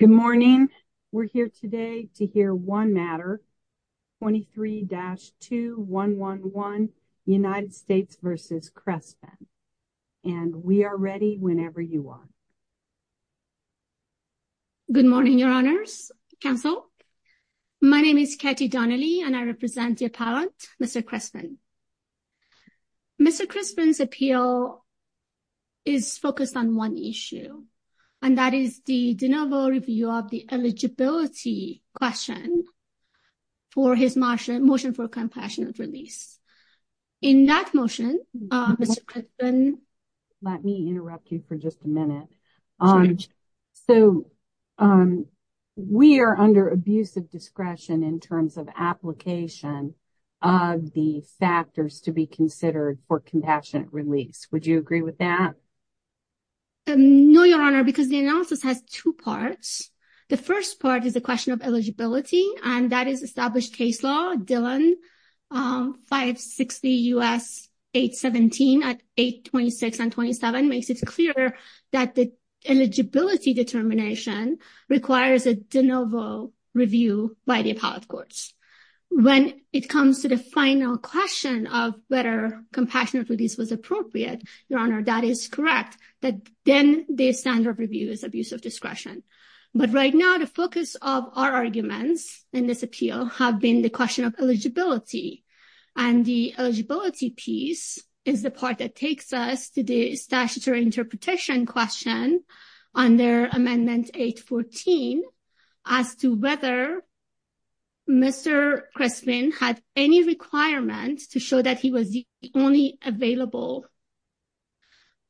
Good morning. We're here today to hear 1 matter. 23 dash 2, 1, 1, 1, United States versus Crespen. And we are ready whenever you want. Good morning. Your honors counsel. My name is Katie Donnelly, and I represent the appellant. Mr. Crespen. Mr. Crespen's appeal. Is focused on 1 issue, and that is the review of the eligibility question. For his motion motion for compassionate release. In that motion, let me interrupt you for just a minute. So, we are under abuse of discretion in terms of application. Of the factors to be considered for compassionate release. Would you agree with that? No, your honor, because the analysis has 2 parts. The 1st part is a question of eligibility and that is established case law. Dylan. Um, 560 US 817 at 826 and 27 makes it clear that the. Eligibility determination requires a de novo. Review by the appellate courts when it comes to the final question of better compassionate release was appropriate. Your honor. That is correct. But then the standard review is abuse of discretion. But right now, the focus of our arguments and this appeal have been the question of eligibility. And the eligibility piece is the part that takes us to the statutory interpretation question on their amendment 814. As to whether Mr. Crestman had any requirement to show that he was the only available.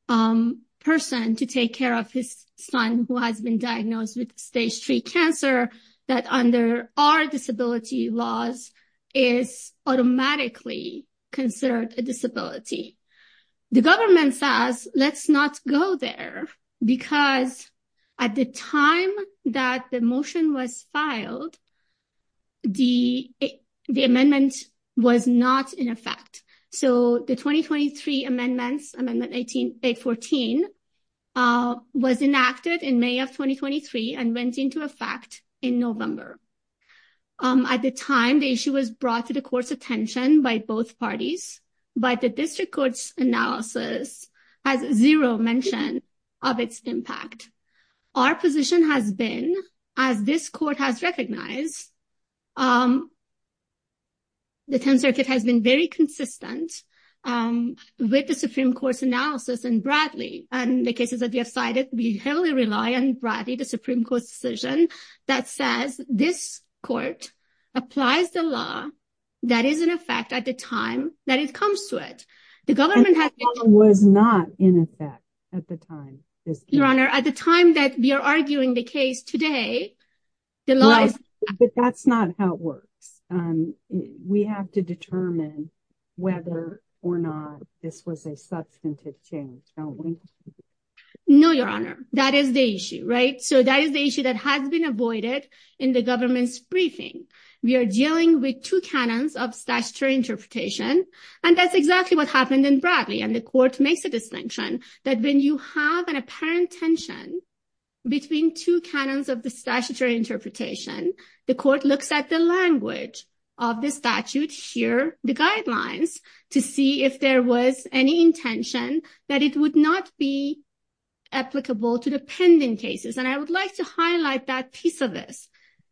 Person to take care of his son who has been diagnosed with stage 3 cancer that under our disability laws. Is automatically considered a disability. The government says, let's not go there because. At the time that the motion was filed. The, the amendment was not in effect, so the 2023 amendments and then the 18, 814. Was enacted in May of 2023 and went into effect in November. At the time, the issue was brought to the course attention by both parties. But the district court's analysis has 0 mention of its impact. Our position has been as this court has recognized. The 10 circuit has been very consistent with the Supreme Court's analysis and Bradley and the cases that we have cited, we heavily rely on Bradley, the Supreme Court decision that says this court. Applies the law that is in effect at the time that it comes to it, the government was not in effect at the time is your honor at the time that we are arguing the case today. The last, but that's not how it works. We have to determine whether or not this was a substantive change. No, your honor, that is the issue, right? So that is the issue that has been avoided in the government's briefing. We are dealing with 2 canons of statutory interpretation and that's exactly what happened in Bradley and the court makes a distinction that when you have an apparent tension. Between 2 canons of the statutory interpretation, the court looks at the language. Of the statute here, the guidelines to see if there was any intention that it would not be. Applicable to the pending cases, and I would like to highlight that piece of this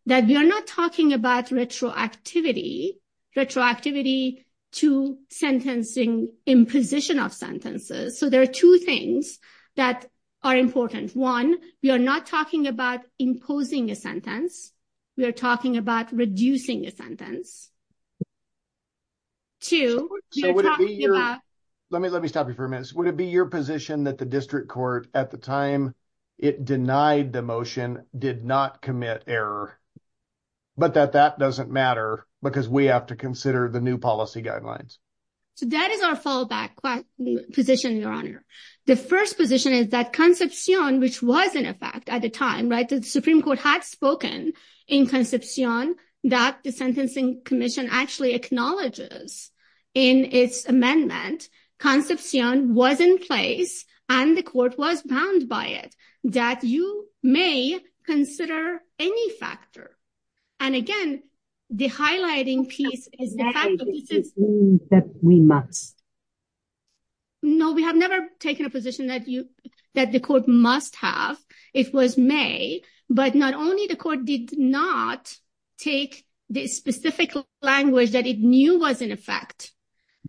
that we are not talking about retroactivity retroactivity to sentencing in position of sentences. So there are 2 things that are important. 1, we are not talking about imposing a sentence. We are talking about reducing a sentence. To let me, let me stop you for a minute. Would it be your position that the district court at the time? It denied the motion did not commit error. But that that doesn't matter because we have to consider the new policy guidelines. So that is our fallback position your honor. The 1st position is that conception, which was in effect at the time, right? The Supreme Court had spoken in conception that the sentencing commission actually acknowledges. In its amendment conception was in place and the court was bound by it that you may consider any factor. And again, the highlighting piece is that we must. No, we have never taken a position that you that the court must have. It was May, but not only the court did not take the specific language that it knew was in effect.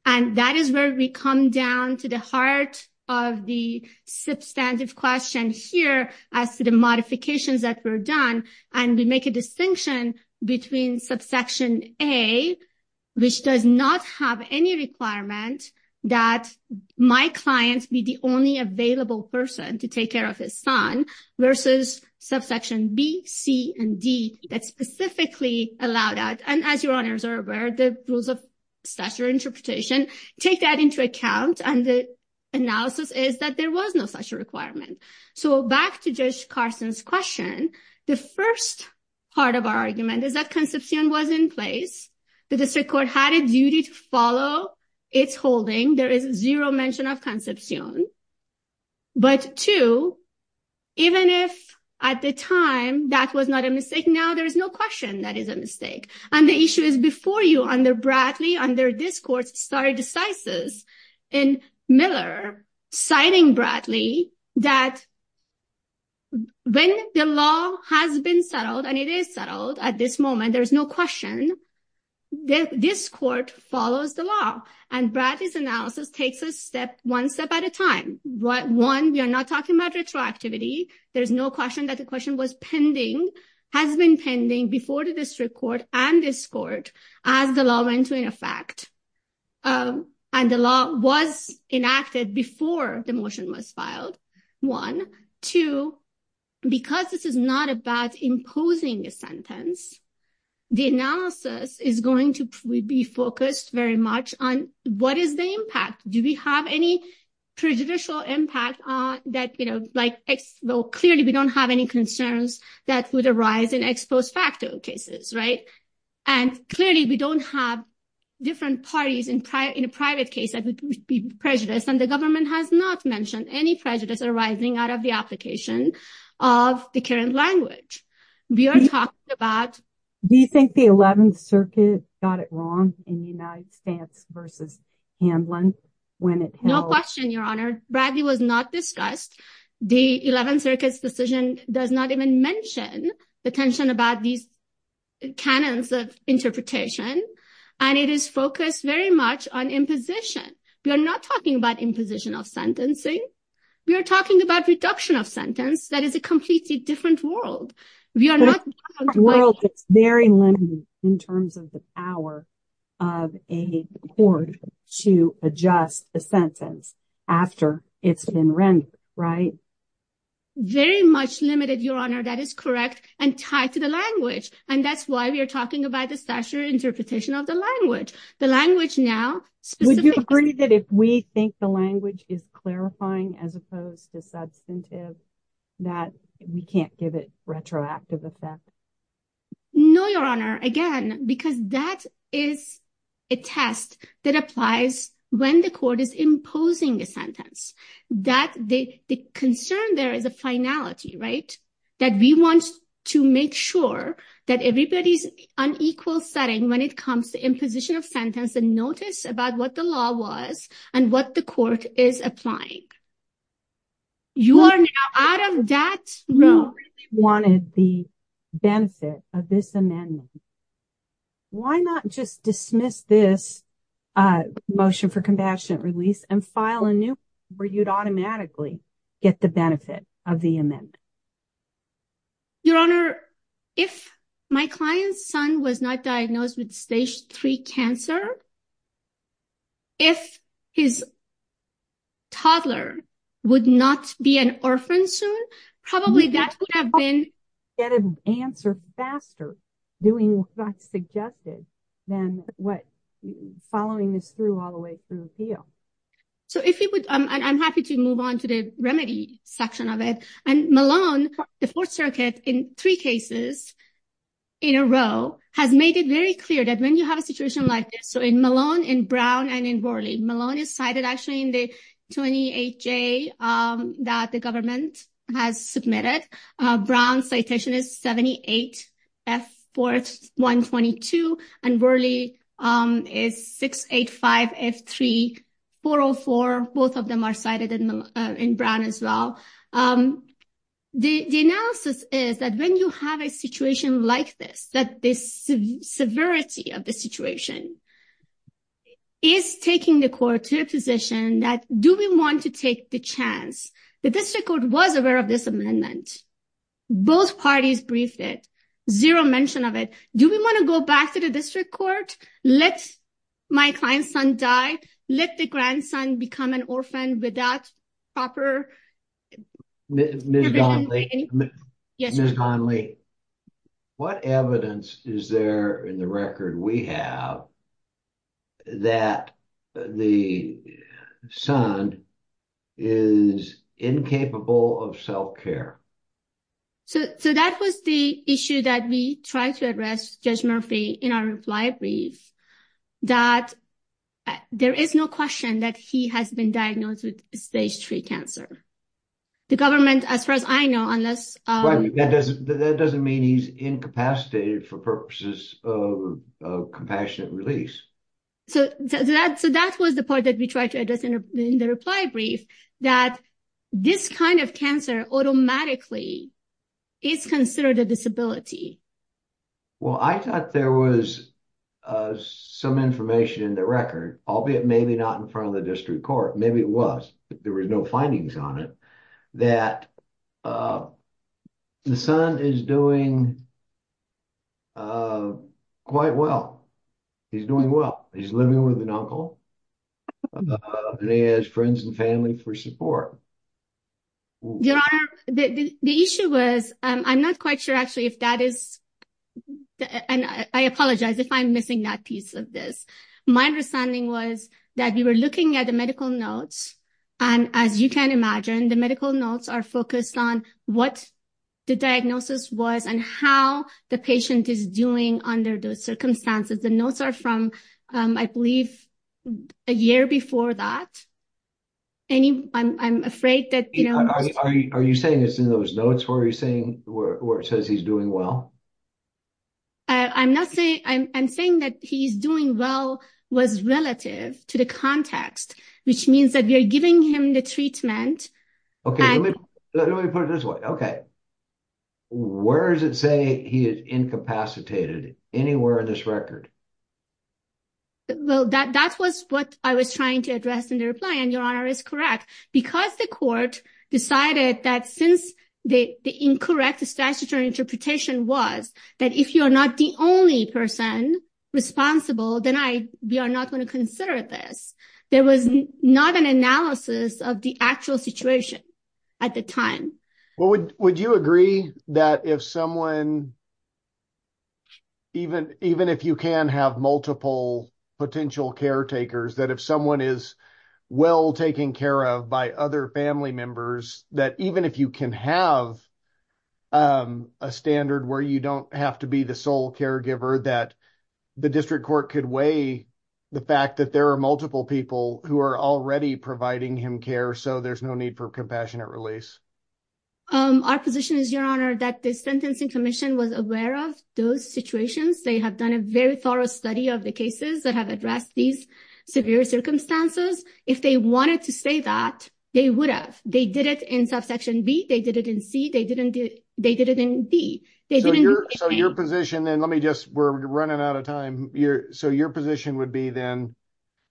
And that is where we come down to the heart of the substantive question here as to the modifications that were done. And we make a distinction between subsection A. Which does not have any requirement that my clients be the only available person to take care of his son. Versus subsection B, C and D. That specifically allowed out and as your honors are aware, the rules of stature interpretation take that into account. And the analysis is that there was no such requirement. So back to judge Carson's question. The 1st part of our argument is that conception was in place. The district court had a duty to follow its holding. There is 0 mention of conception. But 2, even if at the time that was not a mistake now, there is no question that is a mistake. And the issue is before you under Bradley, under this court started decisive in Miller, citing Bradley that. When the law has been settled, and it is settled at this moment, there is no question. This court follows the law and Bradley's analysis takes a step, one step at a time. One, we are not talking about retroactivity. There is no question that the question was pending, has been pending before the district court and this court as the law went to in effect. And the law was enacted before the motion was filed. 1, 2, because this is not about imposing a sentence. The analysis is going to be focused very much on what is the impact? Do we have any prejudicial impact on that? Well, clearly, we don't have any concerns that would arise in ex post facto cases, right? And clearly, we don't have different parties in a private case that would be prejudiced. And the government has not mentioned any prejudice arising out of the application of the current language. We are talking about. Do you think the 11th Circuit got it wrong in the United States versus Hamlin when it held? No question, Your Honor. Bradley was not discussed. The 11th Circuit's decision does not even mention the tension about these canons of interpretation. And it is focused very much on imposition. We are not talking about imposition of sentencing. We are talking about reduction of sentence. That is a completely different world. We are not in a world that's very limited in terms of the power of a court to adjust the sentence after it's been rendered, right? Very much limited, Your Honor. That is correct and tied to the language. And that's why we are talking about the statutory interpretation of the language. The language now. Would you agree that if we think the language is clarifying as opposed to substantive, that we can't give it retroactive effect? No, Your Honor. Again, because that is a test that applies when the court is imposing a sentence. The concern there is a finality, right? That we want to make sure that everybody's unequal setting when it comes to imposition of sentence and notice about what the law was and what the court is applying. You are now out of that room. If you wanted the benefit of this amendment, why not just dismiss this motion for compassionate release and file a new where you'd automatically get the benefit of the amendment? Your Honor, if my client's son was not diagnosed with stage 3 cancer, if his toddler would not be an orphan soon, probably that would have been. Get an answer faster doing what's suggested than what following this through all the way through the appeal. So if you would, I'm happy to move on to the remedy section of it. And Malone, the Fourth Circuit in three cases in a row has made it very clear that when you have a situation like this, so in Malone, in Brown and in Rorley, Malone is cited actually in the 28J that the government has submitted. Brown citation is 78F4122 and Rorley is 685F3404. Both of them are cited in Brown as well. The analysis is that when you have a situation like this, that this severity of the situation is taking the court to a position that do we want to take the chance? The district court was aware of this amendment. Both parties briefed it. Zero mention of it. Do we want to go back to the district court? Let my client's son die? Let the grandson become an orphan without proper? Ms. Donnelly, what evidence is there in the record we have that the son is incapable of self-care? So that was the issue that we tried to address Judge Murphy in our reply brief, that there is no question that he has been diagnosed with stage three cancer. The government, as far as I know, unless. That doesn't mean he's incapacitated for purposes of compassionate release. So that was the part that we tried to address in the reply brief, that this kind of cancer automatically is considered a disability. Well, I thought there was some information in the record, albeit maybe not in front of the district court. Maybe it was. There was no findings on it that the son is doing quite well. He's doing well. He's living with an uncle and he has friends and family for support. The issue was, I'm not quite sure, actually, if that is. And I apologize if I'm missing that piece of this. My understanding was that we were looking at the medical notes, and as you can imagine, the medical notes are focused on what the diagnosis was and how the patient is doing under those circumstances. The notes are from, I believe, a year before that. I'm afraid that. Are you saying it's in those notes where it says he's doing well? I'm not saying, I'm saying that he's doing well was relative to the context, which means that we are giving him the treatment. Okay, let me put it this way. Okay. Where does it say he is incapacitated? Anywhere in this record? Well, that was what I was trying to address in the reply, and Your Honor is correct. Because the court decided that since the incorrect statutory interpretation was, that if you're not the only person responsible, then we are not going to consider this. There was not an analysis of the actual situation at the time. Well, would you agree that if someone, even if you can have multiple potential caretakers, that if someone is well taken care of by other family members, that even if you can have a standard where you don't have to be the sole caregiver, that the district court could weigh the fact that there are multiple people who are already providing him care, so there's no need for compassionate release? Our position is, Your Honor, that the Sentencing Commission was aware of those situations. They have done a very thorough study of the cases that have addressed these severe circumstances. If they wanted to say that, they would have. They did it in subsection B. They did it in C. They did it in D. So your position, then, let me just, we're running out of time. So your position would be, then,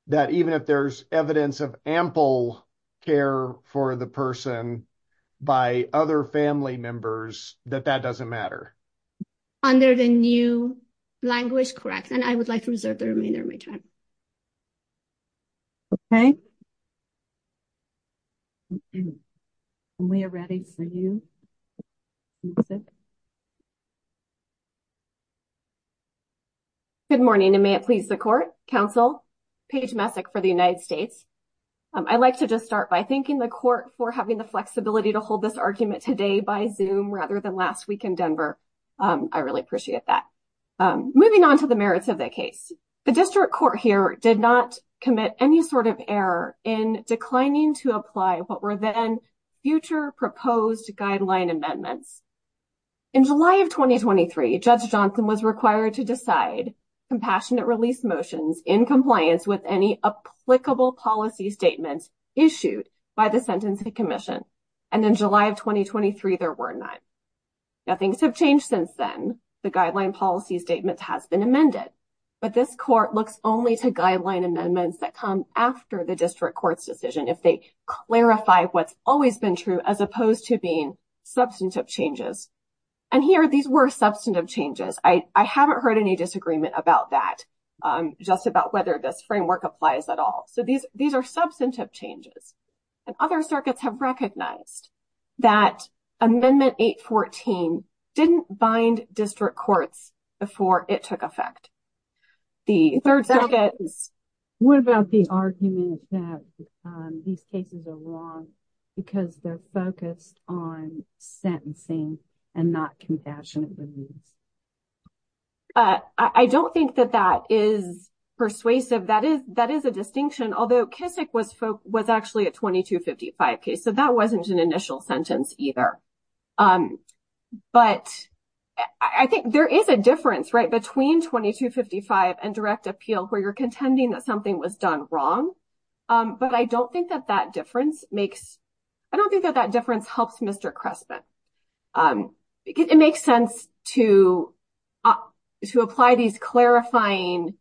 that even if there's evidence of ample care for the person by other family members, that that doesn't matter? Under the new language, correct. And I would like to reserve the remainder of my time. Okay. And we are ready for you, Ms. Messick. Good morning, and may it please the court, counsel, Paige Messick for the United States. I'd like to just start by thanking the court for having the flexibility to hold this argument today by Zoom rather than last week in Denver. I really appreciate that. Moving on to the merits of the case. The district court here did not commit any sort of error in declining to apply what were then future proposed guideline amendments. In July of 2023, Judge Johnson was required to decide compassionate release motions in compliance with any applicable policy statements issued by the Sentencing Commission. And in July of 2023, there were none. Now, things have changed since then. The guideline policy statement has been amended. But this court looks only to guideline amendments that come after the district court's decision if they clarify what's always been true as opposed to being substantive changes. And here, these were substantive changes. I haven't heard any disagreement about that, just about whether this framework applies at all. So these are substantive changes. And other circuits have recognized that Amendment 814 didn't bind district courts before it took effect. The third circuit. What about the argument that these cases are wrong because they're focused on sentencing and not compassionate release? I don't think that that is persuasive. That is a distinction, although Kisik was actually a 2255 case. So that wasn't an initial sentence either. But I think there is a difference, right, between 2255 and direct appeal where you're contending that something was done wrong. But I don't think that that difference makes, I don't think that that difference helps Mr. Cressman. It makes sense to apply these clarifying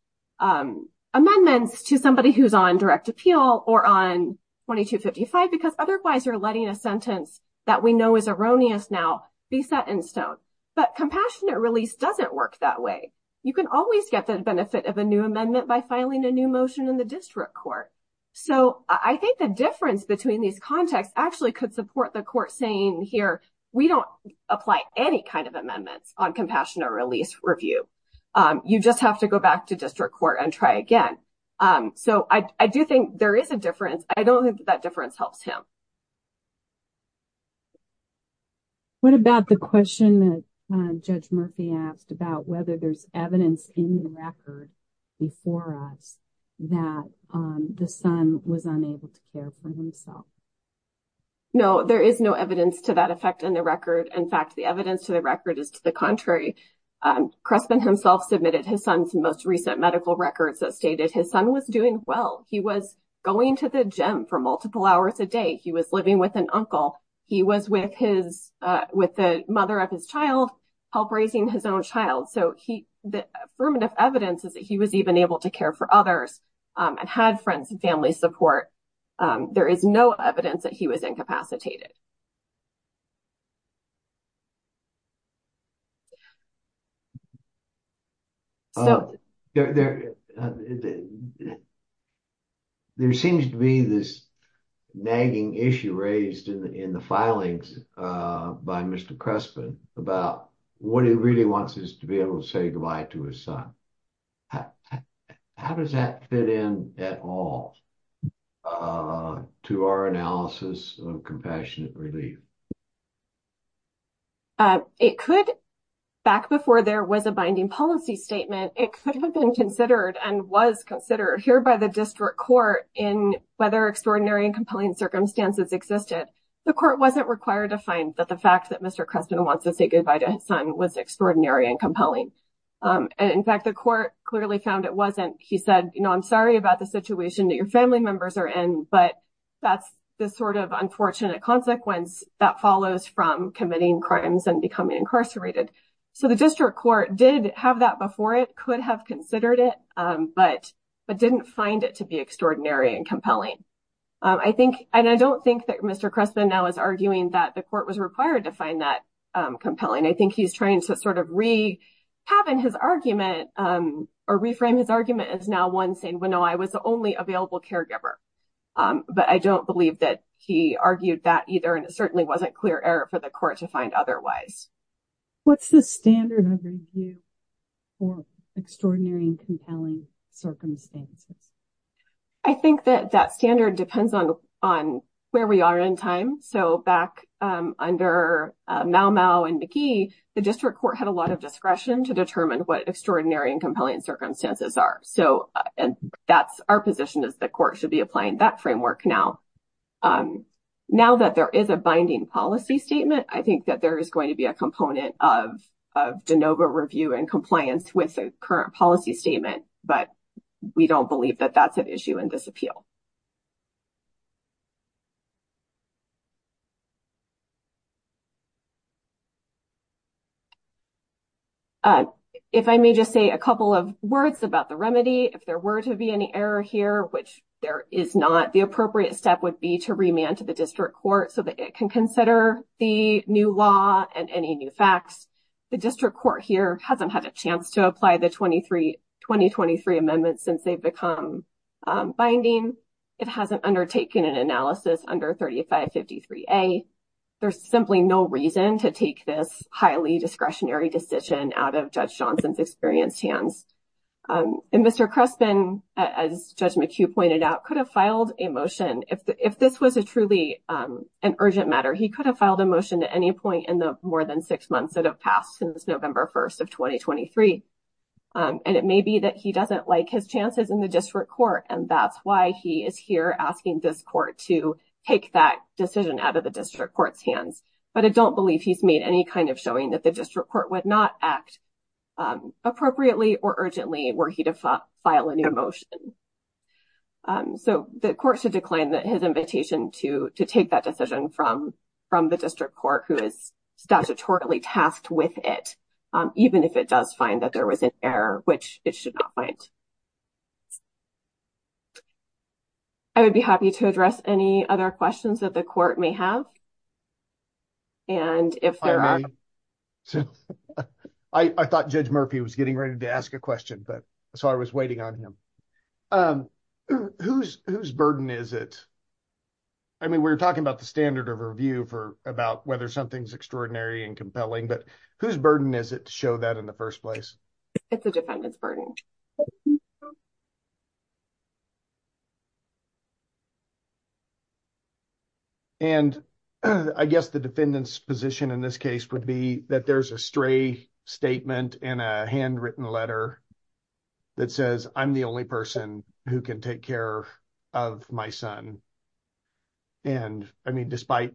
amendments to somebody who's on direct appeal or on 2255 because otherwise you're letting a sentence that we know is erroneous now be set in stone. But compassionate release doesn't work that way. You can always get the benefit of a new amendment by filing a new motion in the district court. So I think the difference between these contexts actually could support the court saying here, we don't apply any kind of amendments on compassionate release review. You just have to go back to district court and try again. So I do think there is a difference. I don't think that difference helps him. What about the question that Judge Murphy asked about whether there's evidence in the record before us that the son was unable to care for himself? No, there is no evidence to that effect in the record. In fact, the evidence to the record is to the contrary. Cressman himself submitted his son's most recent medical records that stated his son was doing well. He was going to the gym for multiple hours a day. He was living with an uncle. He was with the mother of his child, help raising his own child. So the affirmative evidence is that he was even able to care for others and had friends and family support. There is no evidence that he was incapacitated. There seems to be this nagging issue raised in the filings by Mr. Cressman about what he really wants is to be able to say goodbye to his son. How does that fit in at all to our analysis of compassionate relief? It could, back before there was a binding policy statement, it could have been considered and was considered here by the district court in whether extraordinary and compelling circumstances existed. The court wasn't required to find that the fact that Mr. Cressman wants to say goodbye to his son was extraordinary and compelling. In fact, the court clearly found it wasn't. He said, you know, I'm sorry about the situation that your family members are in, but that's the sort of unfortunate consequence that follows from committing crimes and becoming incarcerated. So the district court did have that before. It could have considered it, but didn't find it to be extraordinary and compelling. I think and I don't think that Mr. Cressman now is arguing that the court was required to find that compelling. I think he's trying to sort of have in his argument or reframe his argument as now one saying, well, no, I was the only available caregiver. But I don't believe that he argued that either. And it certainly wasn't clear error for the court to find otherwise. What's the standard of review for extraordinary and compelling circumstances? I think that that standard depends on where we are in time. So back under Mau Mau and McGee, the district court had a lot of discretion to determine what extraordinary and compelling circumstances are. So and that's our position is the court should be applying that framework now. Now that there is a binding policy statement, I think that there is going to be a component of of DeNova review and compliance with the current policy statement. But we don't believe that that's an issue in this appeal. If I may just say a couple of words about the remedy, if there were to be any error here, which there is not, the appropriate step would be to remand to the district court so that it can consider the new law and any new facts. The district court here hasn't had a chance to apply the 23, 2023 amendments since they've become binding. It hasn't undertaken an analysis under 3553A. There's simply no reason to take this highly discretionary decision out of Judge Johnson's experienced hands. And Mr. Crespin, as Judge McHugh pointed out, could have filed a motion. If this was a truly an urgent matter, he could have filed a motion at any point in the more than six months that have passed since November 1st of 2023. And it may be that he doesn't like his chances in the district court. And that's why he is here asking this court to take that decision out of the district court's hands. But I don't believe he's made any kind of showing that the district court would not act appropriately or urgently were he to file a new motion. So the court should decline his invitation to take that decision from the district court who is statutorily tasked with it, even if it does find that there was an error, which it should not find. I would be happy to address any other questions that the court may have. And if there are- Hi, Mary. I thought Judge Murphy was getting ready to ask a question, but so I was waiting on him. Um, whose burden is it? I mean, we're talking about the standard of review for about whether something's extraordinary and compelling, but whose burden is it to show that in the first place? It's the defendant's burden. And I guess the defendant's position in this case would be that there's a stray statement in a handwritten letter that says, I'm the only person who can take care of my son. And I mean, despite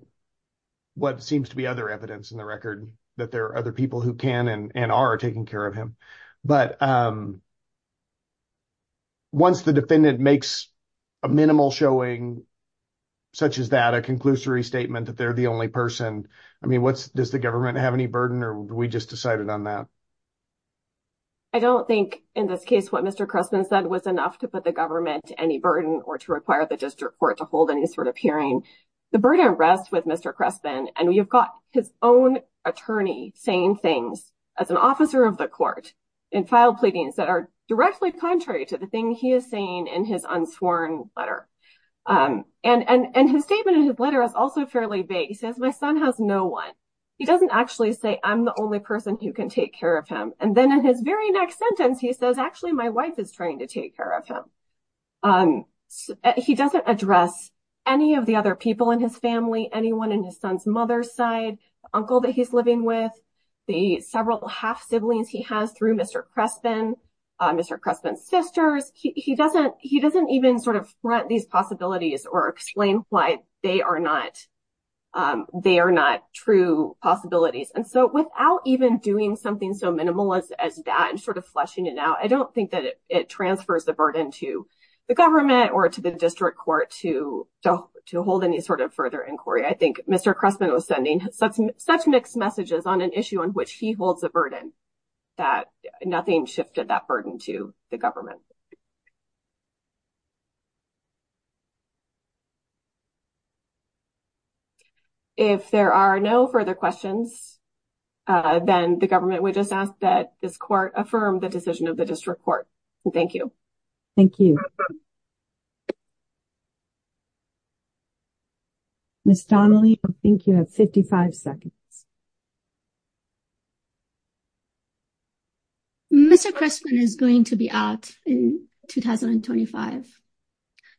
what seems to be other evidence in the record, that there are other people who can and are taking care of him. But once the defendant makes a minimal showing such as that, a conclusory statement that they're the only person, I mean, what's, does the government have any burden or we just decided on that? I don't think in this case, what Mr. Cressman said was enough to put the government to any burden or to require the district court to hold any sort of hearing. The burden rests with Mr. Cressman. And you've got his own attorney saying things as an officer of the court in file pleadings that are directly contrary to the thing he is saying in his unsworn letter. And his statement in his letter is also fairly vague. He says, my son has no one. He doesn't actually say, I'm the only person who can take care of him. And then in his very next sentence, he says, actually, my wife is trying to take care of him. He doesn't address any of the other people in his family, anyone in his son's mother's side, uncle that he's living with, the several half-siblings he has through Mr. Cressman, Mr. Cressman's sisters. He doesn't even sort of front these possibilities or explain why they are not, they are not true possibilities. And so without even doing something so minimalist as that and sort of fleshing it out, I don't think that it transfers the burden to the government or to the district court to hold any sort of further inquiry. I think Mr. Cressman was sending such mixed messages on an issue on which he holds a burden that nothing shifted that burden to the government. If there are no further questions, then the government would just ask that this court affirm the decision of the district court. Thank you. Thank you. Ms. Donnelly, I think you have 55 seconds. Mr. Cressman is going to be out in 2025.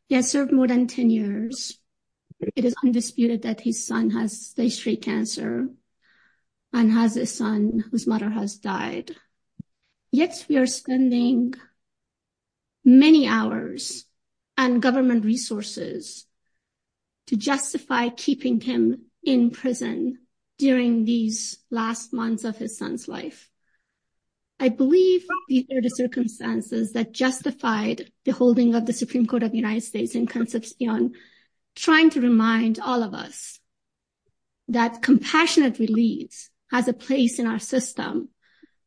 He has served more than 10 years. It is undisputed that his son has stage three cancer and has a son whose mother has died. Yet we are spending many hours and government resources to justify keeping him in prison during these last months of his son's life. I believe these are the circumstances that justified the holding of the Supreme Court of the United States in terms of trying to remind all of us that compassionate release has a place in our system.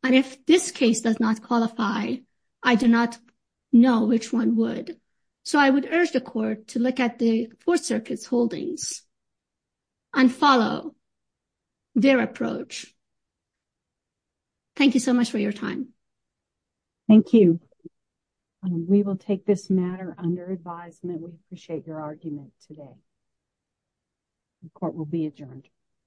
And if this case does not qualify, I do not know which one would. So I would urge the court to look at the Fourth Circuit's holdings and follow their approach. Thank you so much for your time. Thank you. And we will take this matter under advisement. We appreciate your argument today.